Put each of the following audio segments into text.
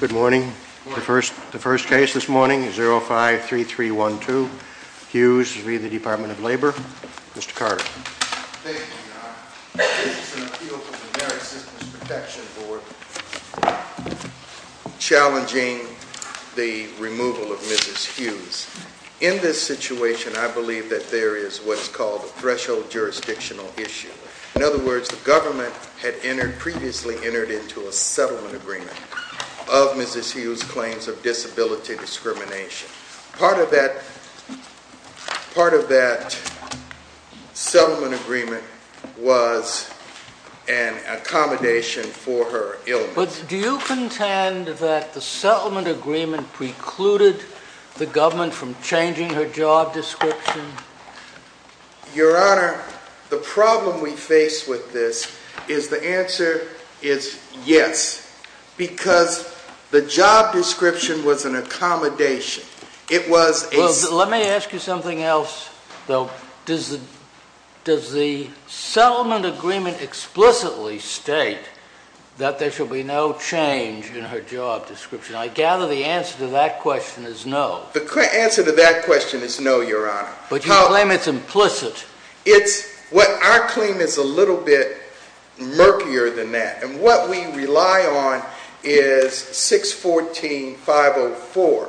Good morning. The first case this morning is 053312, Hughes v. the Department of Labor. Mr. Carter. Thank you, Your Honor. This is an appeal from the Ameri-Systems Protection Board challenging the removal of Mrs. Hughes. In this situation, I believe that there is what is called a threshold jurisdictional issue. In other words, the government had previously entered into a settlement agreement of Mrs. Hughes' claims of disability discrimination. Part of that settlement agreement was an accommodation for her illness. But do you contend that the settlement agreement precluded the government from changing her job description? Your Honor, the problem we face with this is the answer is yes, because the job description was an accommodation. It was a... Well, let me ask you something else, though. Does the settlement agreement explicitly state that there shall be no change in her job description? I gather the answer to that question is no. The answer to that question is no, Your Honor. But you claim it's implicit. Our claim is a little bit murkier than that, and what we rely on is 614-504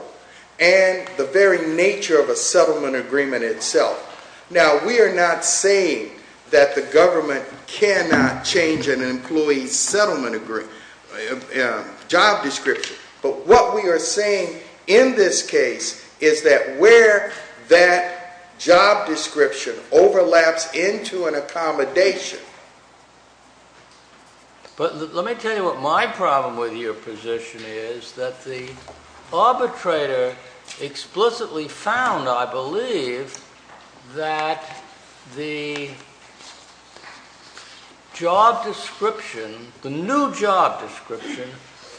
and the very nature of a settlement agreement itself. Now, we are not saying that the government cannot change an employee's job description, but what we are saying in this case is that where that job description overlaps into an accommodation... But let me tell you what my problem with your position is, that the arbitrator explicitly found, I believe, that the job description, the new job description,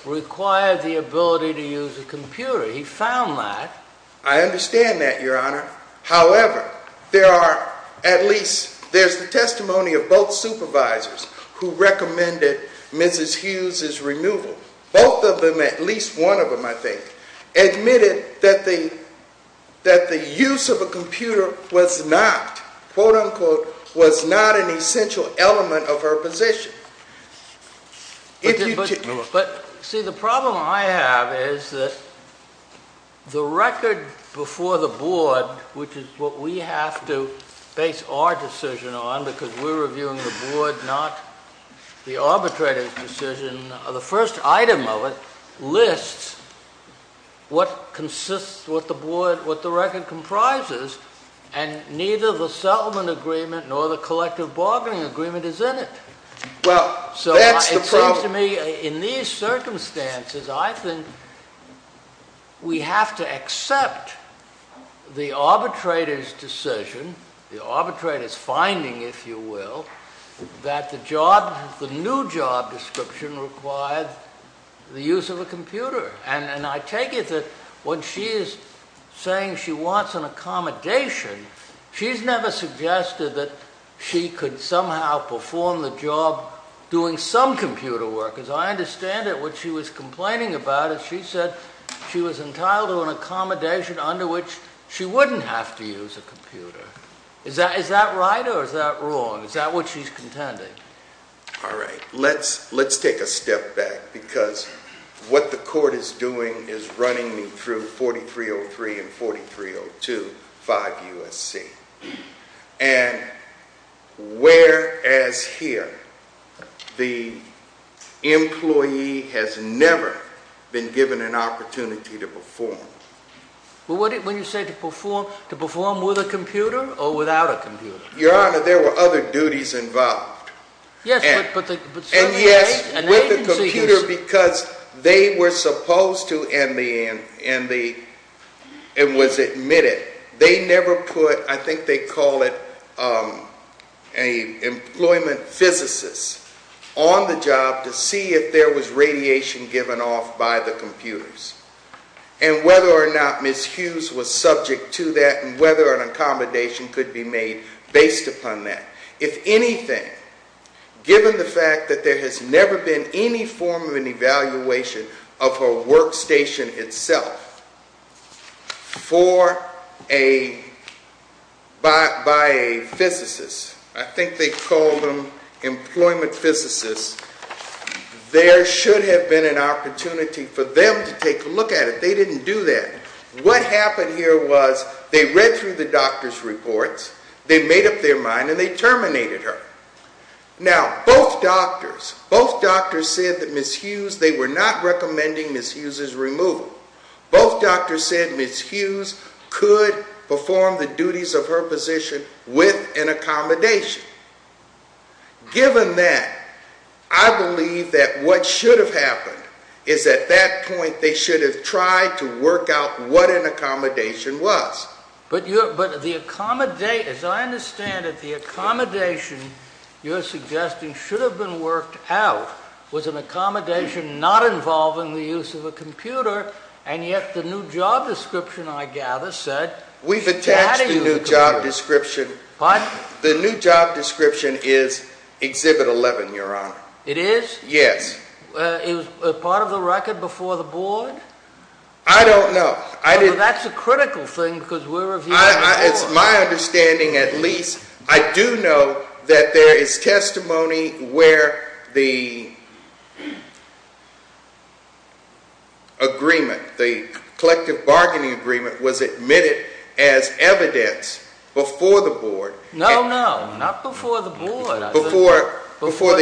required the ability to use a computer. He found that... I understand that, Your Honor. However, there are at least, there's the testimony of both supervisors who recommended Mrs. Hughes' removal. Both of them, at least one of them, I think, admitted that the use of a computer was not, quote-unquote, was not an essential element of her position. But, see, the problem I have is that the record before the board, which is what we have to base our decision on, because we're reviewing the board, not the arbitrator's decision, the first item of it lists what consists, what the board, what the record comprises, and neither the settlement agreement nor the collective bargaining agreement is in it. Well, that's the problem. So it seems to me, in these circumstances, I think we have to accept the arbitrator's decision, the arbitrator's finding, if you will, that the job, the new job description required the use of a computer. And I take it that when she is saying she wants an accommodation, she's never suggested that she could somehow perform the job doing some computer work. As I understand it, what she was complaining about is she said she was entitled to an accommodation under which she wouldn't have to use a computer. Is that right or is that wrong? Is that what she's contending? All right. Let's take a step back, because what the court is doing is running me through 4303 and 4302, 5 U.S.C. And whereas here, the employee has never been given an opportunity to perform. Well, when you say to perform, to perform with a computer or without a computer? Your Honor, there were other duties involved. Yes, but certainly... And yes, with a computer, because they were supposed to, and was admitted, they never put, I think they call it an employment physicist, on the job to see if there was radiation given off by the computers and whether or not Ms. Hughes was subject to that and whether an accommodation could be made based upon that. If anything, given the fact that there has never been any form of an evaluation of her workstation itself by a physicist, I think they call them employment physicists, there should have been an opportunity for them to take a look at it. They didn't do that. What happened here was they read through the doctor's reports, they made up their mind, and they terminated her. Now, both doctors, both doctors said that Ms. Hughes, they were not recommending Ms. Hughes's removal. Both doctors said Ms. Hughes could perform the duties of her position with an accommodation. Given that, I believe that what should have happened is at that point they should have tried to work out what an accommodation was. But the accommodation, as I understand it, the accommodation you're suggesting should have been worked out was an accommodation not involving the use of a computer, and yet the new job description, I gather, said she had to use a computer. We've attached a new job description. Pardon? The new job description is Exhibit 11, Your Honor. It is? Yes. Is part of the record before the board? I don't know. Well, that's a critical thing because we're reviewing the form. It's my understanding, at least, I do know that there is testimony where the agreement, the collective bargaining agreement, was admitted as evidence before the board. No, no, not before the board. Before the... Before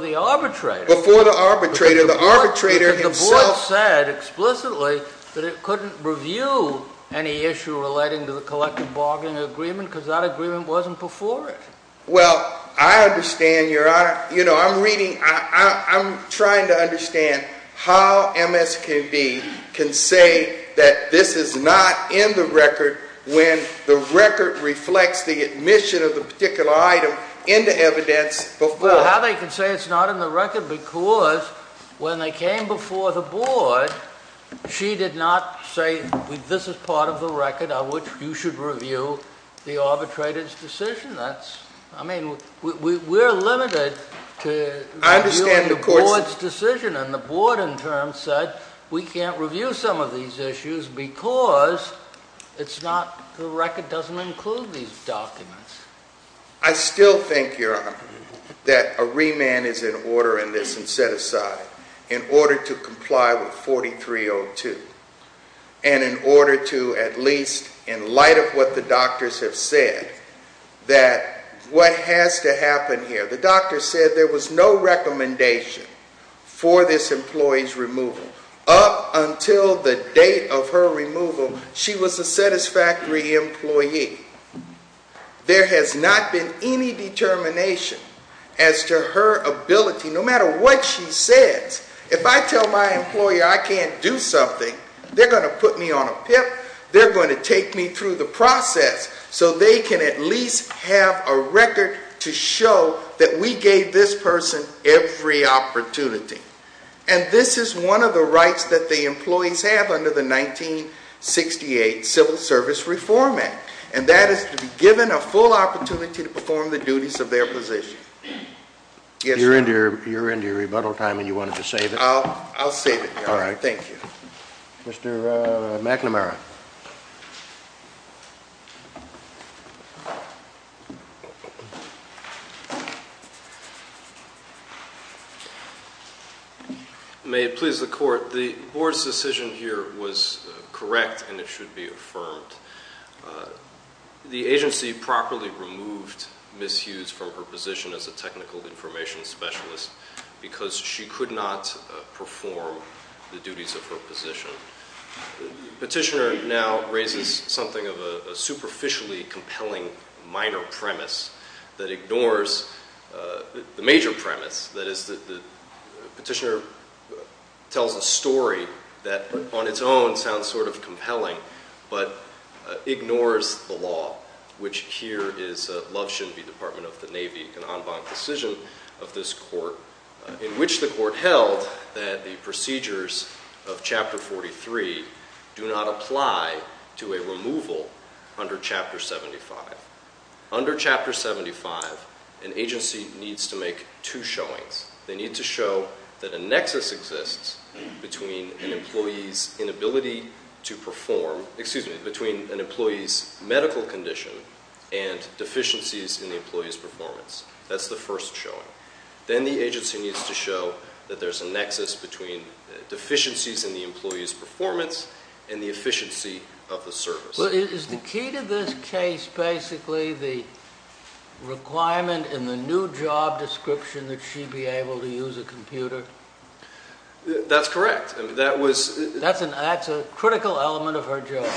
the arbitrator. Before the arbitrator. The arbitrator himself... But it couldn't review any issue relating to the collective bargaining agreement because that agreement wasn't before it. Well, I understand, Your Honor. You know, I'm reading, I'm trying to understand how MSKB can say that this is not in the record when the record reflects the admission of the particular item into evidence before... You cannot say this is part of the record on which you should review the arbitrator's decision. That's, I mean, we're limited to reviewing the board's decision. I understand the court's... And the board, in turn, said we can't review some of these issues because it's not, the record doesn't include these documents. I still think, Your Honor, that a remand is in order in this and set aside in order to comply with 4302. And in order to, at least, in light of what the doctors have said, that what has to happen here. The doctor said there was no recommendation for this employee's removal. Up until the date of her removal, she was a satisfactory employee. There has not been any determination as to her ability, no matter what she says. If I tell my employer I can't do something, they're going to put me on a pip. They're going to take me through the process so they can at least have a record to show that we gave this person every opportunity. And this is one of the rights that the employees have under the 1968 Civil Service Reform Act. And that is to be given a full opportunity to perform the duties of their position. Yes, sir. You're into your rebuttal time and you wanted to save it? I'll save it, Your Honor. All right. Thank you. Mr. McNamara. May it please the court, the board's decision here was correct and it should be affirmed. The agency properly removed Ms. Hughes from her position as a technical information specialist because she could not perform the duties of her position. Petitioner now raises something of a superficially compelling minor premise that ignores the major premise. That is the petitioner tells a story that on its own sounds sort of compelling but ignores the law, which here is a love-shouldn't-be Department of the Navy, an en banc decision of this court in which the court held that the procedures of Chapter 43 do not apply to a removal under Chapter 75. Under Chapter 75, an agency needs to make two showings. They need to show that a nexus exists between an employee's inability to perform, excuse me, between an employee's medical condition and deficiencies in the employee's performance. That's the first showing. Then the agency needs to show that there's a nexus between deficiencies in the employee's performance and the efficiency of the service. Is the key to this case basically the requirement in the new job description that she be able to use a computer? That's correct. That's a critical element of her job.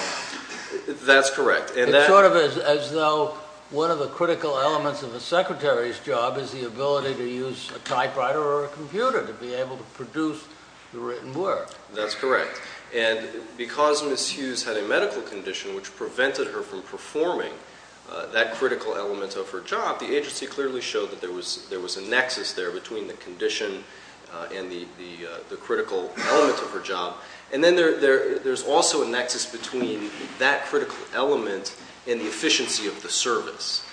That's correct. It's sort of as though one of the critical elements of a secretary's job is the ability to use a typewriter or a computer to be able to produce the written work. That's correct. And because Ms. Hughes had a medical condition which prevented her from performing that critical element of her job, the agency clearly showed that there was a nexus there between the condition and the critical element of her job. And then there's also a nexus between that critical element and the efficiency of the service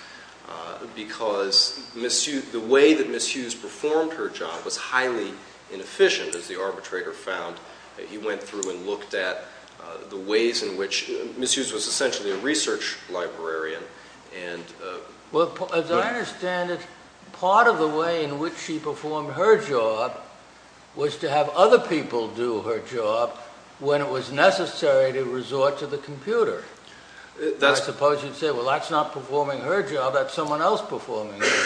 because the way that Ms. Hughes performed her job was highly inefficient, as the arbitrator found. He went through and looked at the ways in which Ms. Hughes was essentially a research librarian. As I understand it, part of the way in which she performed her job was to have other people do her job when it was necessary to resort to the computer. I suppose you'd say, well, that's not performing her job. That's someone else performing her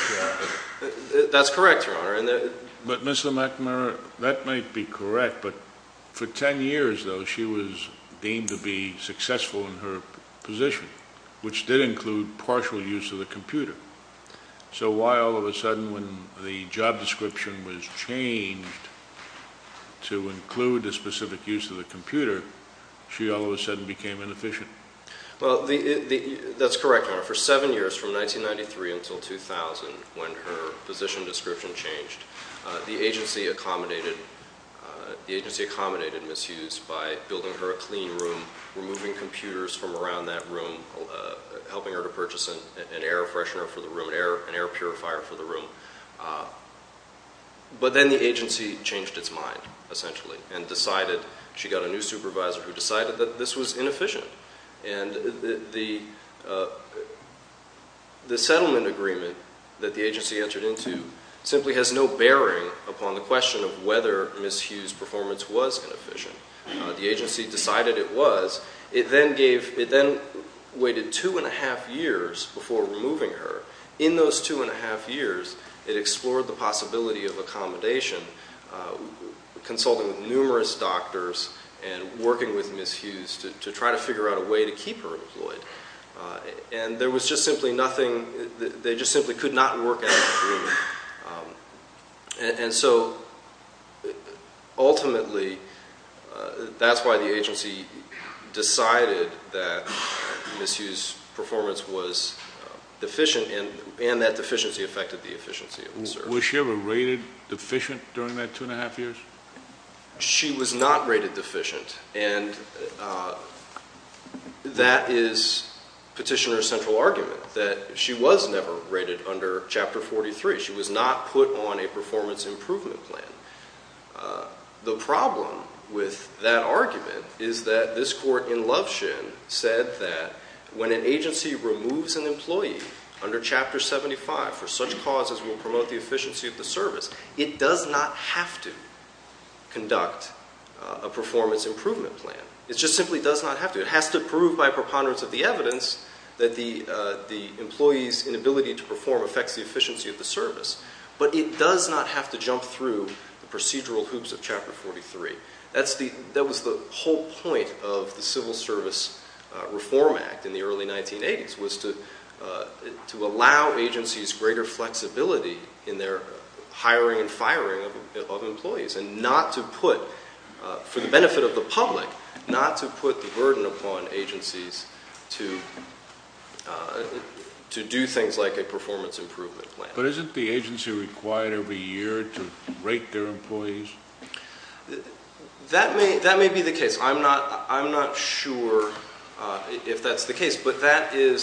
job. That's correct, Your Honor. But, Mr. McNamara, that might be correct, but for 10 years, though, she was deemed to be successful in her position, which did include partial use of the computer. So why, all of a sudden, when the job description was changed to include the specific use of the computer, she all of a sudden became inefficient? Well, that's correct, Your Honor. For seven years, from 1993 until 2000, when her position description changed, the agency accommodated Ms. Hughes by building her a clean room, removing computers from around that room, helping her to purchase an air freshener for the room, an air purifier for the room. But then the agency changed its mind, essentially, and decided she got a new supervisor who decided that this was inefficient. And the settlement agreement that the agency entered into simply has no bearing upon the question of whether Ms. Hughes' performance was inefficient. The agency decided it was. It then waited two and a half years before removing her. In those two and a half years, it explored the possibility of accommodation, consulting with numerous doctors and working with Ms. Hughes to try to figure out a way to keep her employed. And there was just simply nothing. They just simply could not work in that room. And so ultimately, that's why the agency decided that Ms. Hughes' performance was deficient, and that deficiency affected the efficiency of the service. Was she ever rated deficient during that two and a half years? She was not rated deficient. And that is Petitioner's central argument, that she was never rated under Chapter 43. She was not put on a performance improvement plan. The problem with that argument is that this court, in Lovshin, said that when an agency removes an employee under Chapter 75 for such causes as will promote the efficiency of the service, it does not have to conduct a performance improvement plan. It just simply does not have to. It has to prove by preponderance of the evidence that the employee's inability to perform affects the efficiency of the service. But it does not have to jump through the procedural hoops of Chapter 43. That was the whole point of the Civil Service Reform Act in the early 1980s, was to allow agencies greater flexibility in their hiring and firing of employees and not to put, for the benefit of the public, not to put the burden upon agencies to do things like a performance improvement plan. But isn't the agency required every year to rate their employees? That may be the case. I'm not sure if that's the case. But that is—even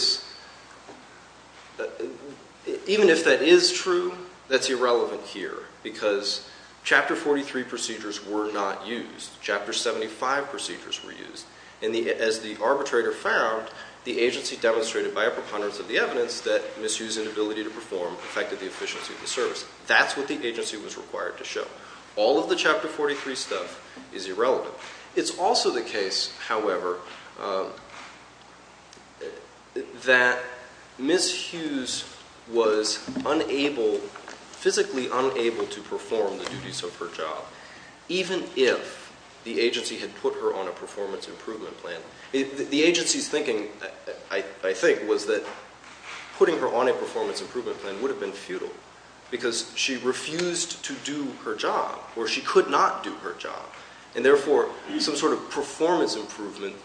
if that is true, that's irrelevant here because Chapter 43 procedures were not used. Chapter 75 procedures were used. And as the arbitrator found, the agency demonstrated by a preponderance of the evidence that Ms. Hughes' inability to perform affected the efficiency of the service. That's what the agency was required to show. All of the Chapter 43 stuff is irrelevant. It's also the case, however, that Ms. Hughes was unable—physically unable to perform the duties of her job, even if the agency had put her on a performance improvement plan. The agency's thinking, I think, was that putting her on a performance improvement plan would have been futile because she refused to do her job or she could not do her job. And therefore, some sort of performance improvement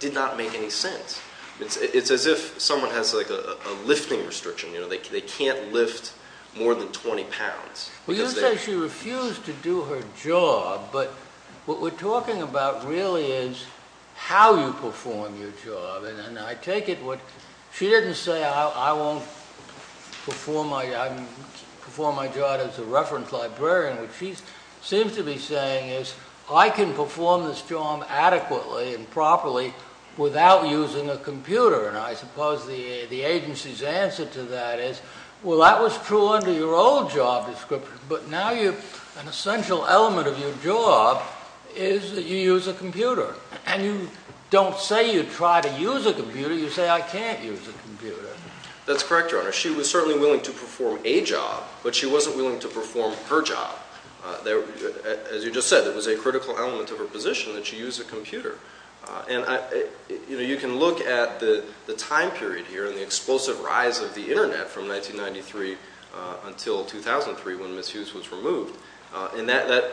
did not make any sense. It's as if someone has a lifting restriction. They can't lift more than 20 pounds. Well, you say she refused to do her job, but what we're talking about really is how you perform your job. And I take it what—she didn't say, I won't perform my job as a reference librarian. What she seems to be saying is, I can perform this job adequately and properly without using a computer. And I suppose the agency's answer to that is, well, that was true under your old job description, but now an essential element of your job is that you use a computer. And you don't say you try to use a computer. You say, I can't use a computer. That's correct, Your Honor. She was certainly willing to perform a job, but she wasn't willing to perform her job. As you just said, it was a critical element of her position that she use a computer. And, you know, you can look at the time period here and the explosive rise of the Internet from 1993 until 2003 when Ms. Hughes was removed. And that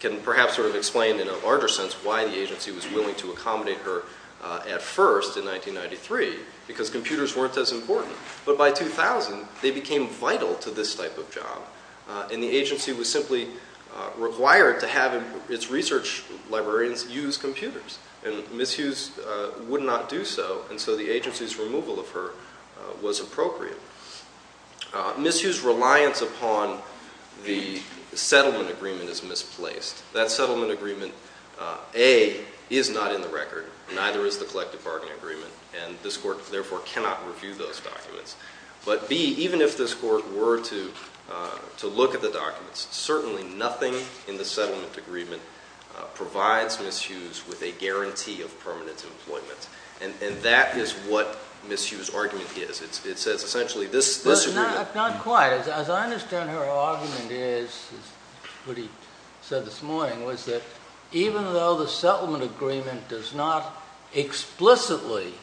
can perhaps sort of explain in a larger sense why the agency was willing to accommodate her at first in 1993, because computers weren't as important. But by 2000, they became vital to this type of job. And the agency was simply required to have its research librarians use computers. And Ms. Hughes would not do so. And so the agency's removal of her was appropriate. Ms. Hughes' reliance upon the settlement agreement is misplaced. That settlement agreement, A, is not in the record. Neither is the collective bargaining agreement. And this Court, therefore, cannot review those documents. But, B, even if this Court were to look at the documents, certainly nothing in the settlement agreement provides Ms. Hughes with a guarantee of permanent employment. And that is what Ms. Hughes' argument is. It's essentially this agreement. Not quite. As I understand her argument is, what he said this morning, was that even though the settlement agreement does not explicitly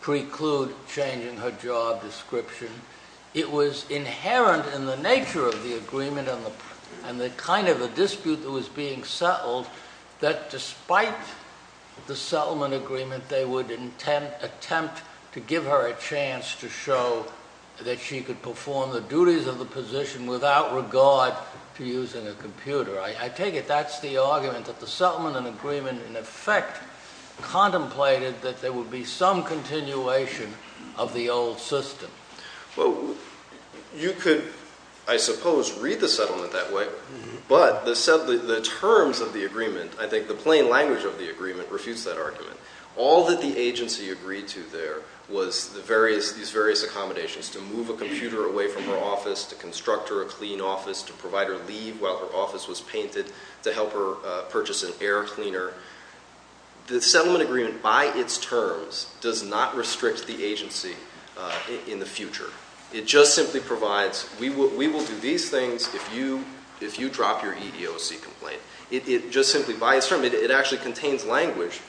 preclude changing her job description, it was inherent in the nature of the agreement and the kind of a dispute that was being settled, that despite the settlement agreement, they would attempt to give her a chance to show that she could perform the duties of the position without regard to using a computer. I take it that's the argument, that the settlement agreement, in effect, contemplated that there would be some continuation of the old system. Well, you could, I suppose, read the settlement that way. But the terms of the agreement, I think the plain language of the agreement, refutes that argument. All that the agency agreed to there was these various accommodations to move a computer away from her office, to construct her a clean office, to provide her leave while her office was painted, to help her purchase an air cleaner. The settlement agreement, by its terms, does not restrict the agency in the future. It just simply provides, we will do these things if you drop your EEOC complaint. It just simply, by its terms, it actually contains language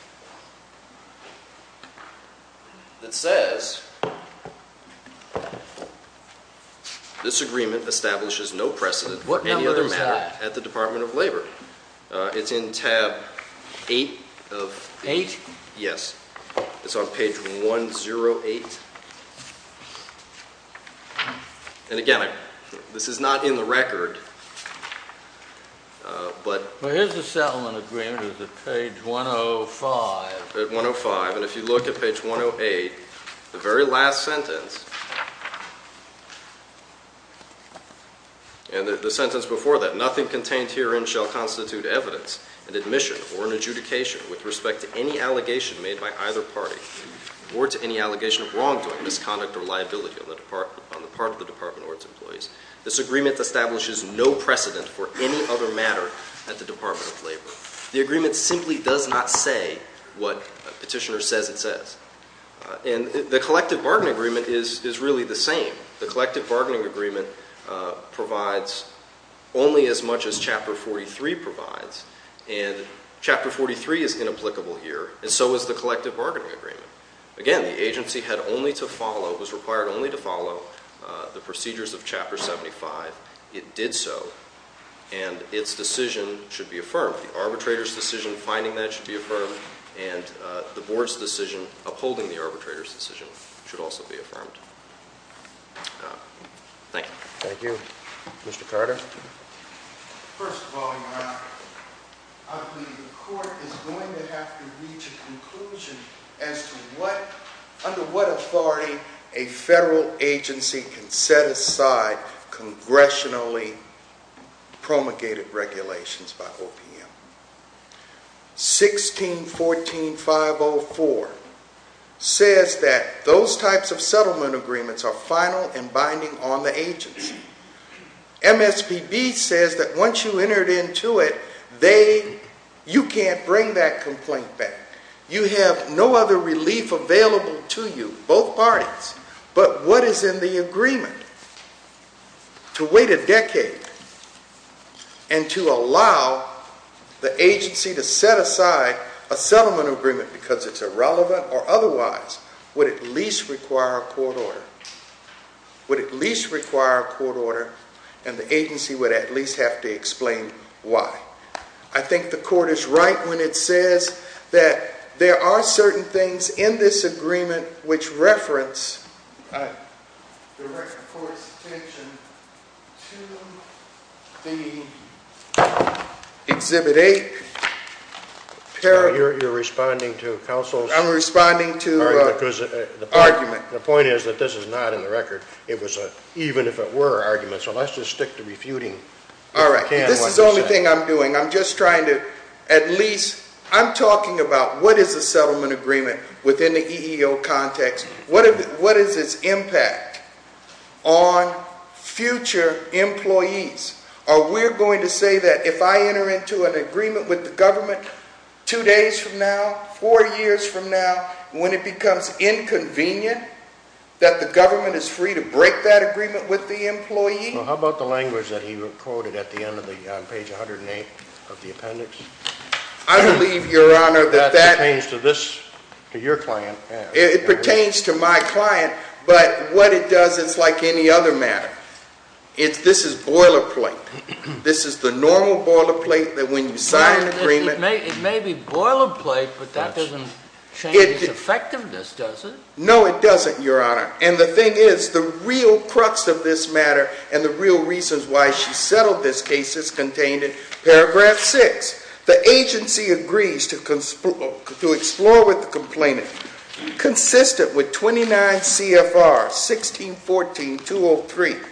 that says this agreement establishes no precedent for any other matter at the Department of Labor. What number is that? It's in tab eight of the… Eight? Yes. It's on page 108. And again, this is not in the record, but… Well, here's the settlement agreement. It's at page 105. At 105. And if you look at page 108, the very last sentence, and the sentence before that, an admission or an adjudication with respect to any allegation made by either party or to any allegation of wrongdoing, misconduct, or liability on the part of the Department or its employees. This agreement establishes no precedent for any other matter at the Department of Labor. The agreement simply does not say what Petitioner says it says. And the collective bargaining agreement is really the same. The collective bargaining agreement provides only as much as Chapter 43 provides. And Chapter 43 is inapplicable here, and so is the collective bargaining agreement. Again, the agency had only to follow, was required only to follow the procedures of Chapter 75. It did so, and its decision should be affirmed. The arbitrator's decision finding that should be affirmed, and the board's decision upholding the arbitrator's decision should also be affirmed. Thank you. Thank you. Mr. Carter? First of all, Your Honor, I believe the court is going to have to reach a conclusion as to what, under what authority, a federal agency can set aside congressionally promulgated regulations by OPM. 1614.504 says that those types of settlement agreements are final and binding on the agency. MSPB says that once you entered into it, they, you can't bring that complaint back. You have no other relief available to you, both parties. But what is in the agreement? To wait a decade, and to allow the agency to set aside a settlement agreement because it's irrelevant or otherwise, would at least require a court order. Would at least require a court order, and the agency would at least have to explain why. I think the court is right when it says that there are certain things in this agreement which reference direct court's attention to the Exhibit 8. You're responding to counsel's argument. I'm responding to argument. The point is that this is not in the record. It was a, even if it were, argument. So let's just stick to refuting. All right. This is the only thing I'm doing. I'm just trying to at least, I'm talking about what is a settlement agreement within the EEO context. What is its impact on future employees? Are we going to say that if I enter into an agreement with the government two days from now, four years from now, when it becomes inconvenient that the government is free to break that agreement with the employee? Well, how about the language that he quoted at the end of the, on page 108 of the appendix? I believe, Your Honor, that that That pertains to this, to your client. It pertains to my client, but what it does, it's like any other matter. This is boilerplate. This is the normal boilerplate that when you sign an agreement It may be boilerplate, but that doesn't change its effectiveness, does it? No, it doesn't, Your Honor. And the thing is, the real crux of this matter and the real reasons why she settled this case is contained in paragraph 6. The agency agrees to explore with the complainant, consistent with 29 CFR 1614-203,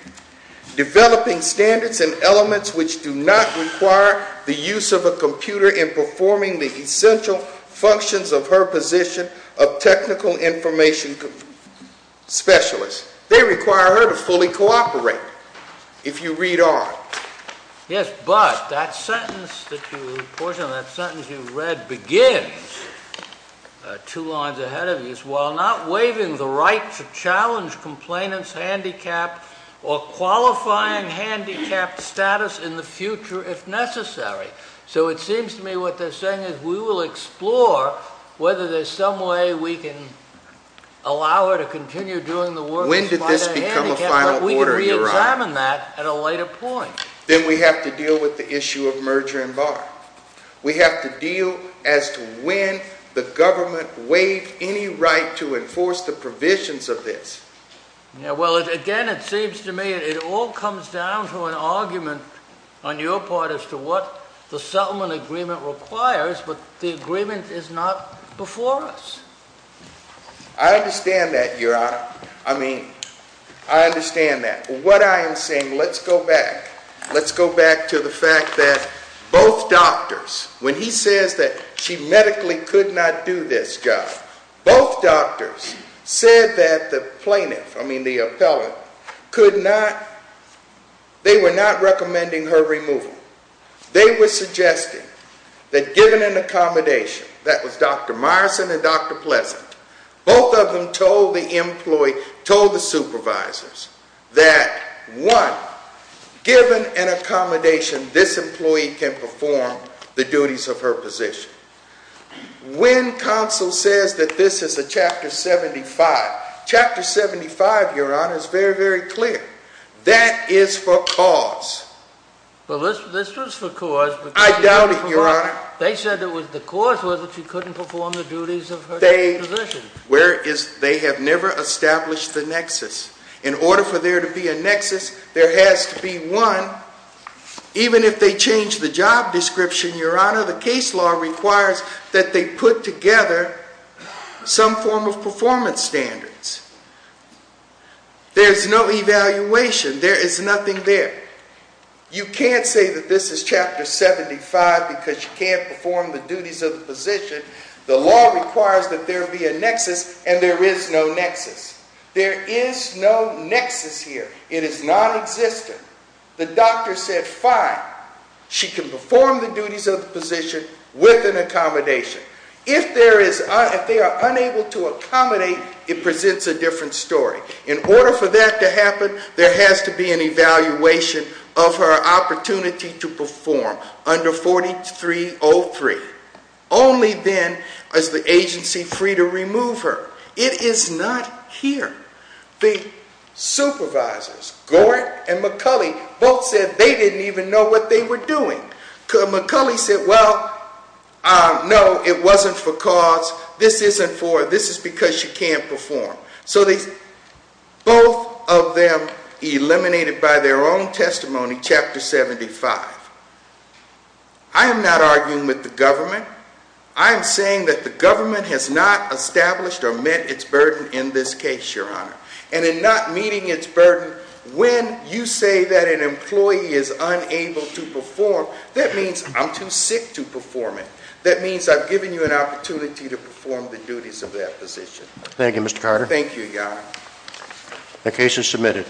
developing standards and elements which do not require the use of a computer in performing the essential functions of her position of technical information specialist. They require her to fully cooperate, if you read on. Yes, but that sentence that you, the portion of that sentence you read begins, two lines ahead of you, while not waiving the right to challenge complainant's handicapped or qualifying handicapped status in the future if necessary. So it seems to me what they're saying is we will explore whether there's some way we can allow her to continue doing the work. When did this become a final order, Your Honor? We can re-examine that at a later point. Then we have to deal with the issue of merger and bar. We have to deal as to when the government waived any right to enforce the provisions of this. Well, again, it seems to me it all comes down to an argument on your part as to what the settlement agreement requires, but the agreement is not before us. I understand that, Your Honor. I mean, I understand that. What I am saying, let's go back. Let's go back to the fact that both doctors, when he says that she medically could not do this job, both doctors said that the plaintiff, I mean the appellant, they were not recommending her removal. They were suggesting that given an accommodation, that was Dr. Myerson and Dr. Pleasant, both of them told the supervisors that, one, given an accommodation, this employee can perform the duties of her position. When counsel says that this is a Chapter 75, Chapter 75, Your Honor, is very, very clear. That is for cause. Well, this was for cause. I doubt it, Your Honor. They said that the cause was that she couldn't perform the duties of her position. They have never established the nexus. In order for there to be a nexus, there has to be one. Even if they change the job description, Your Honor, the case law requires that they put together some form of performance standards. There's no evaluation. There is nothing there. You can't say that this is Chapter 75 because she can't perform the duties of the position. The law requires that there be a nexus, and there is no nexus. There is no nexus here. It is nonexistent. The doctor said, fine, she can perform the duties of the position with an accommodation. If they are unable to accommodate, it presents a different story. In order for that to happen, there has to be an evaluation of her opportunity to perform under 4303. Only then is the agency free to remove her. It is not here. The supervisors, Gorin and McCulley, both said they didn't even know what they were doing. McCulley said, well, no, it wasn't for cause. This is because she can't perform. So both of them eliminated by their own testimony, Chapter 75. I am not arguing with the government. I am saying that the government has not established or met its burden in this case, Your Honor. And in not meeting its burden, when you say that an employee is unable to perform, that means I'm too sick to perform it. That means I've given you an opportunity to perform the duties of that position. Thank you, Mr. Carter. Thank you, Your Honor. The case is submitted.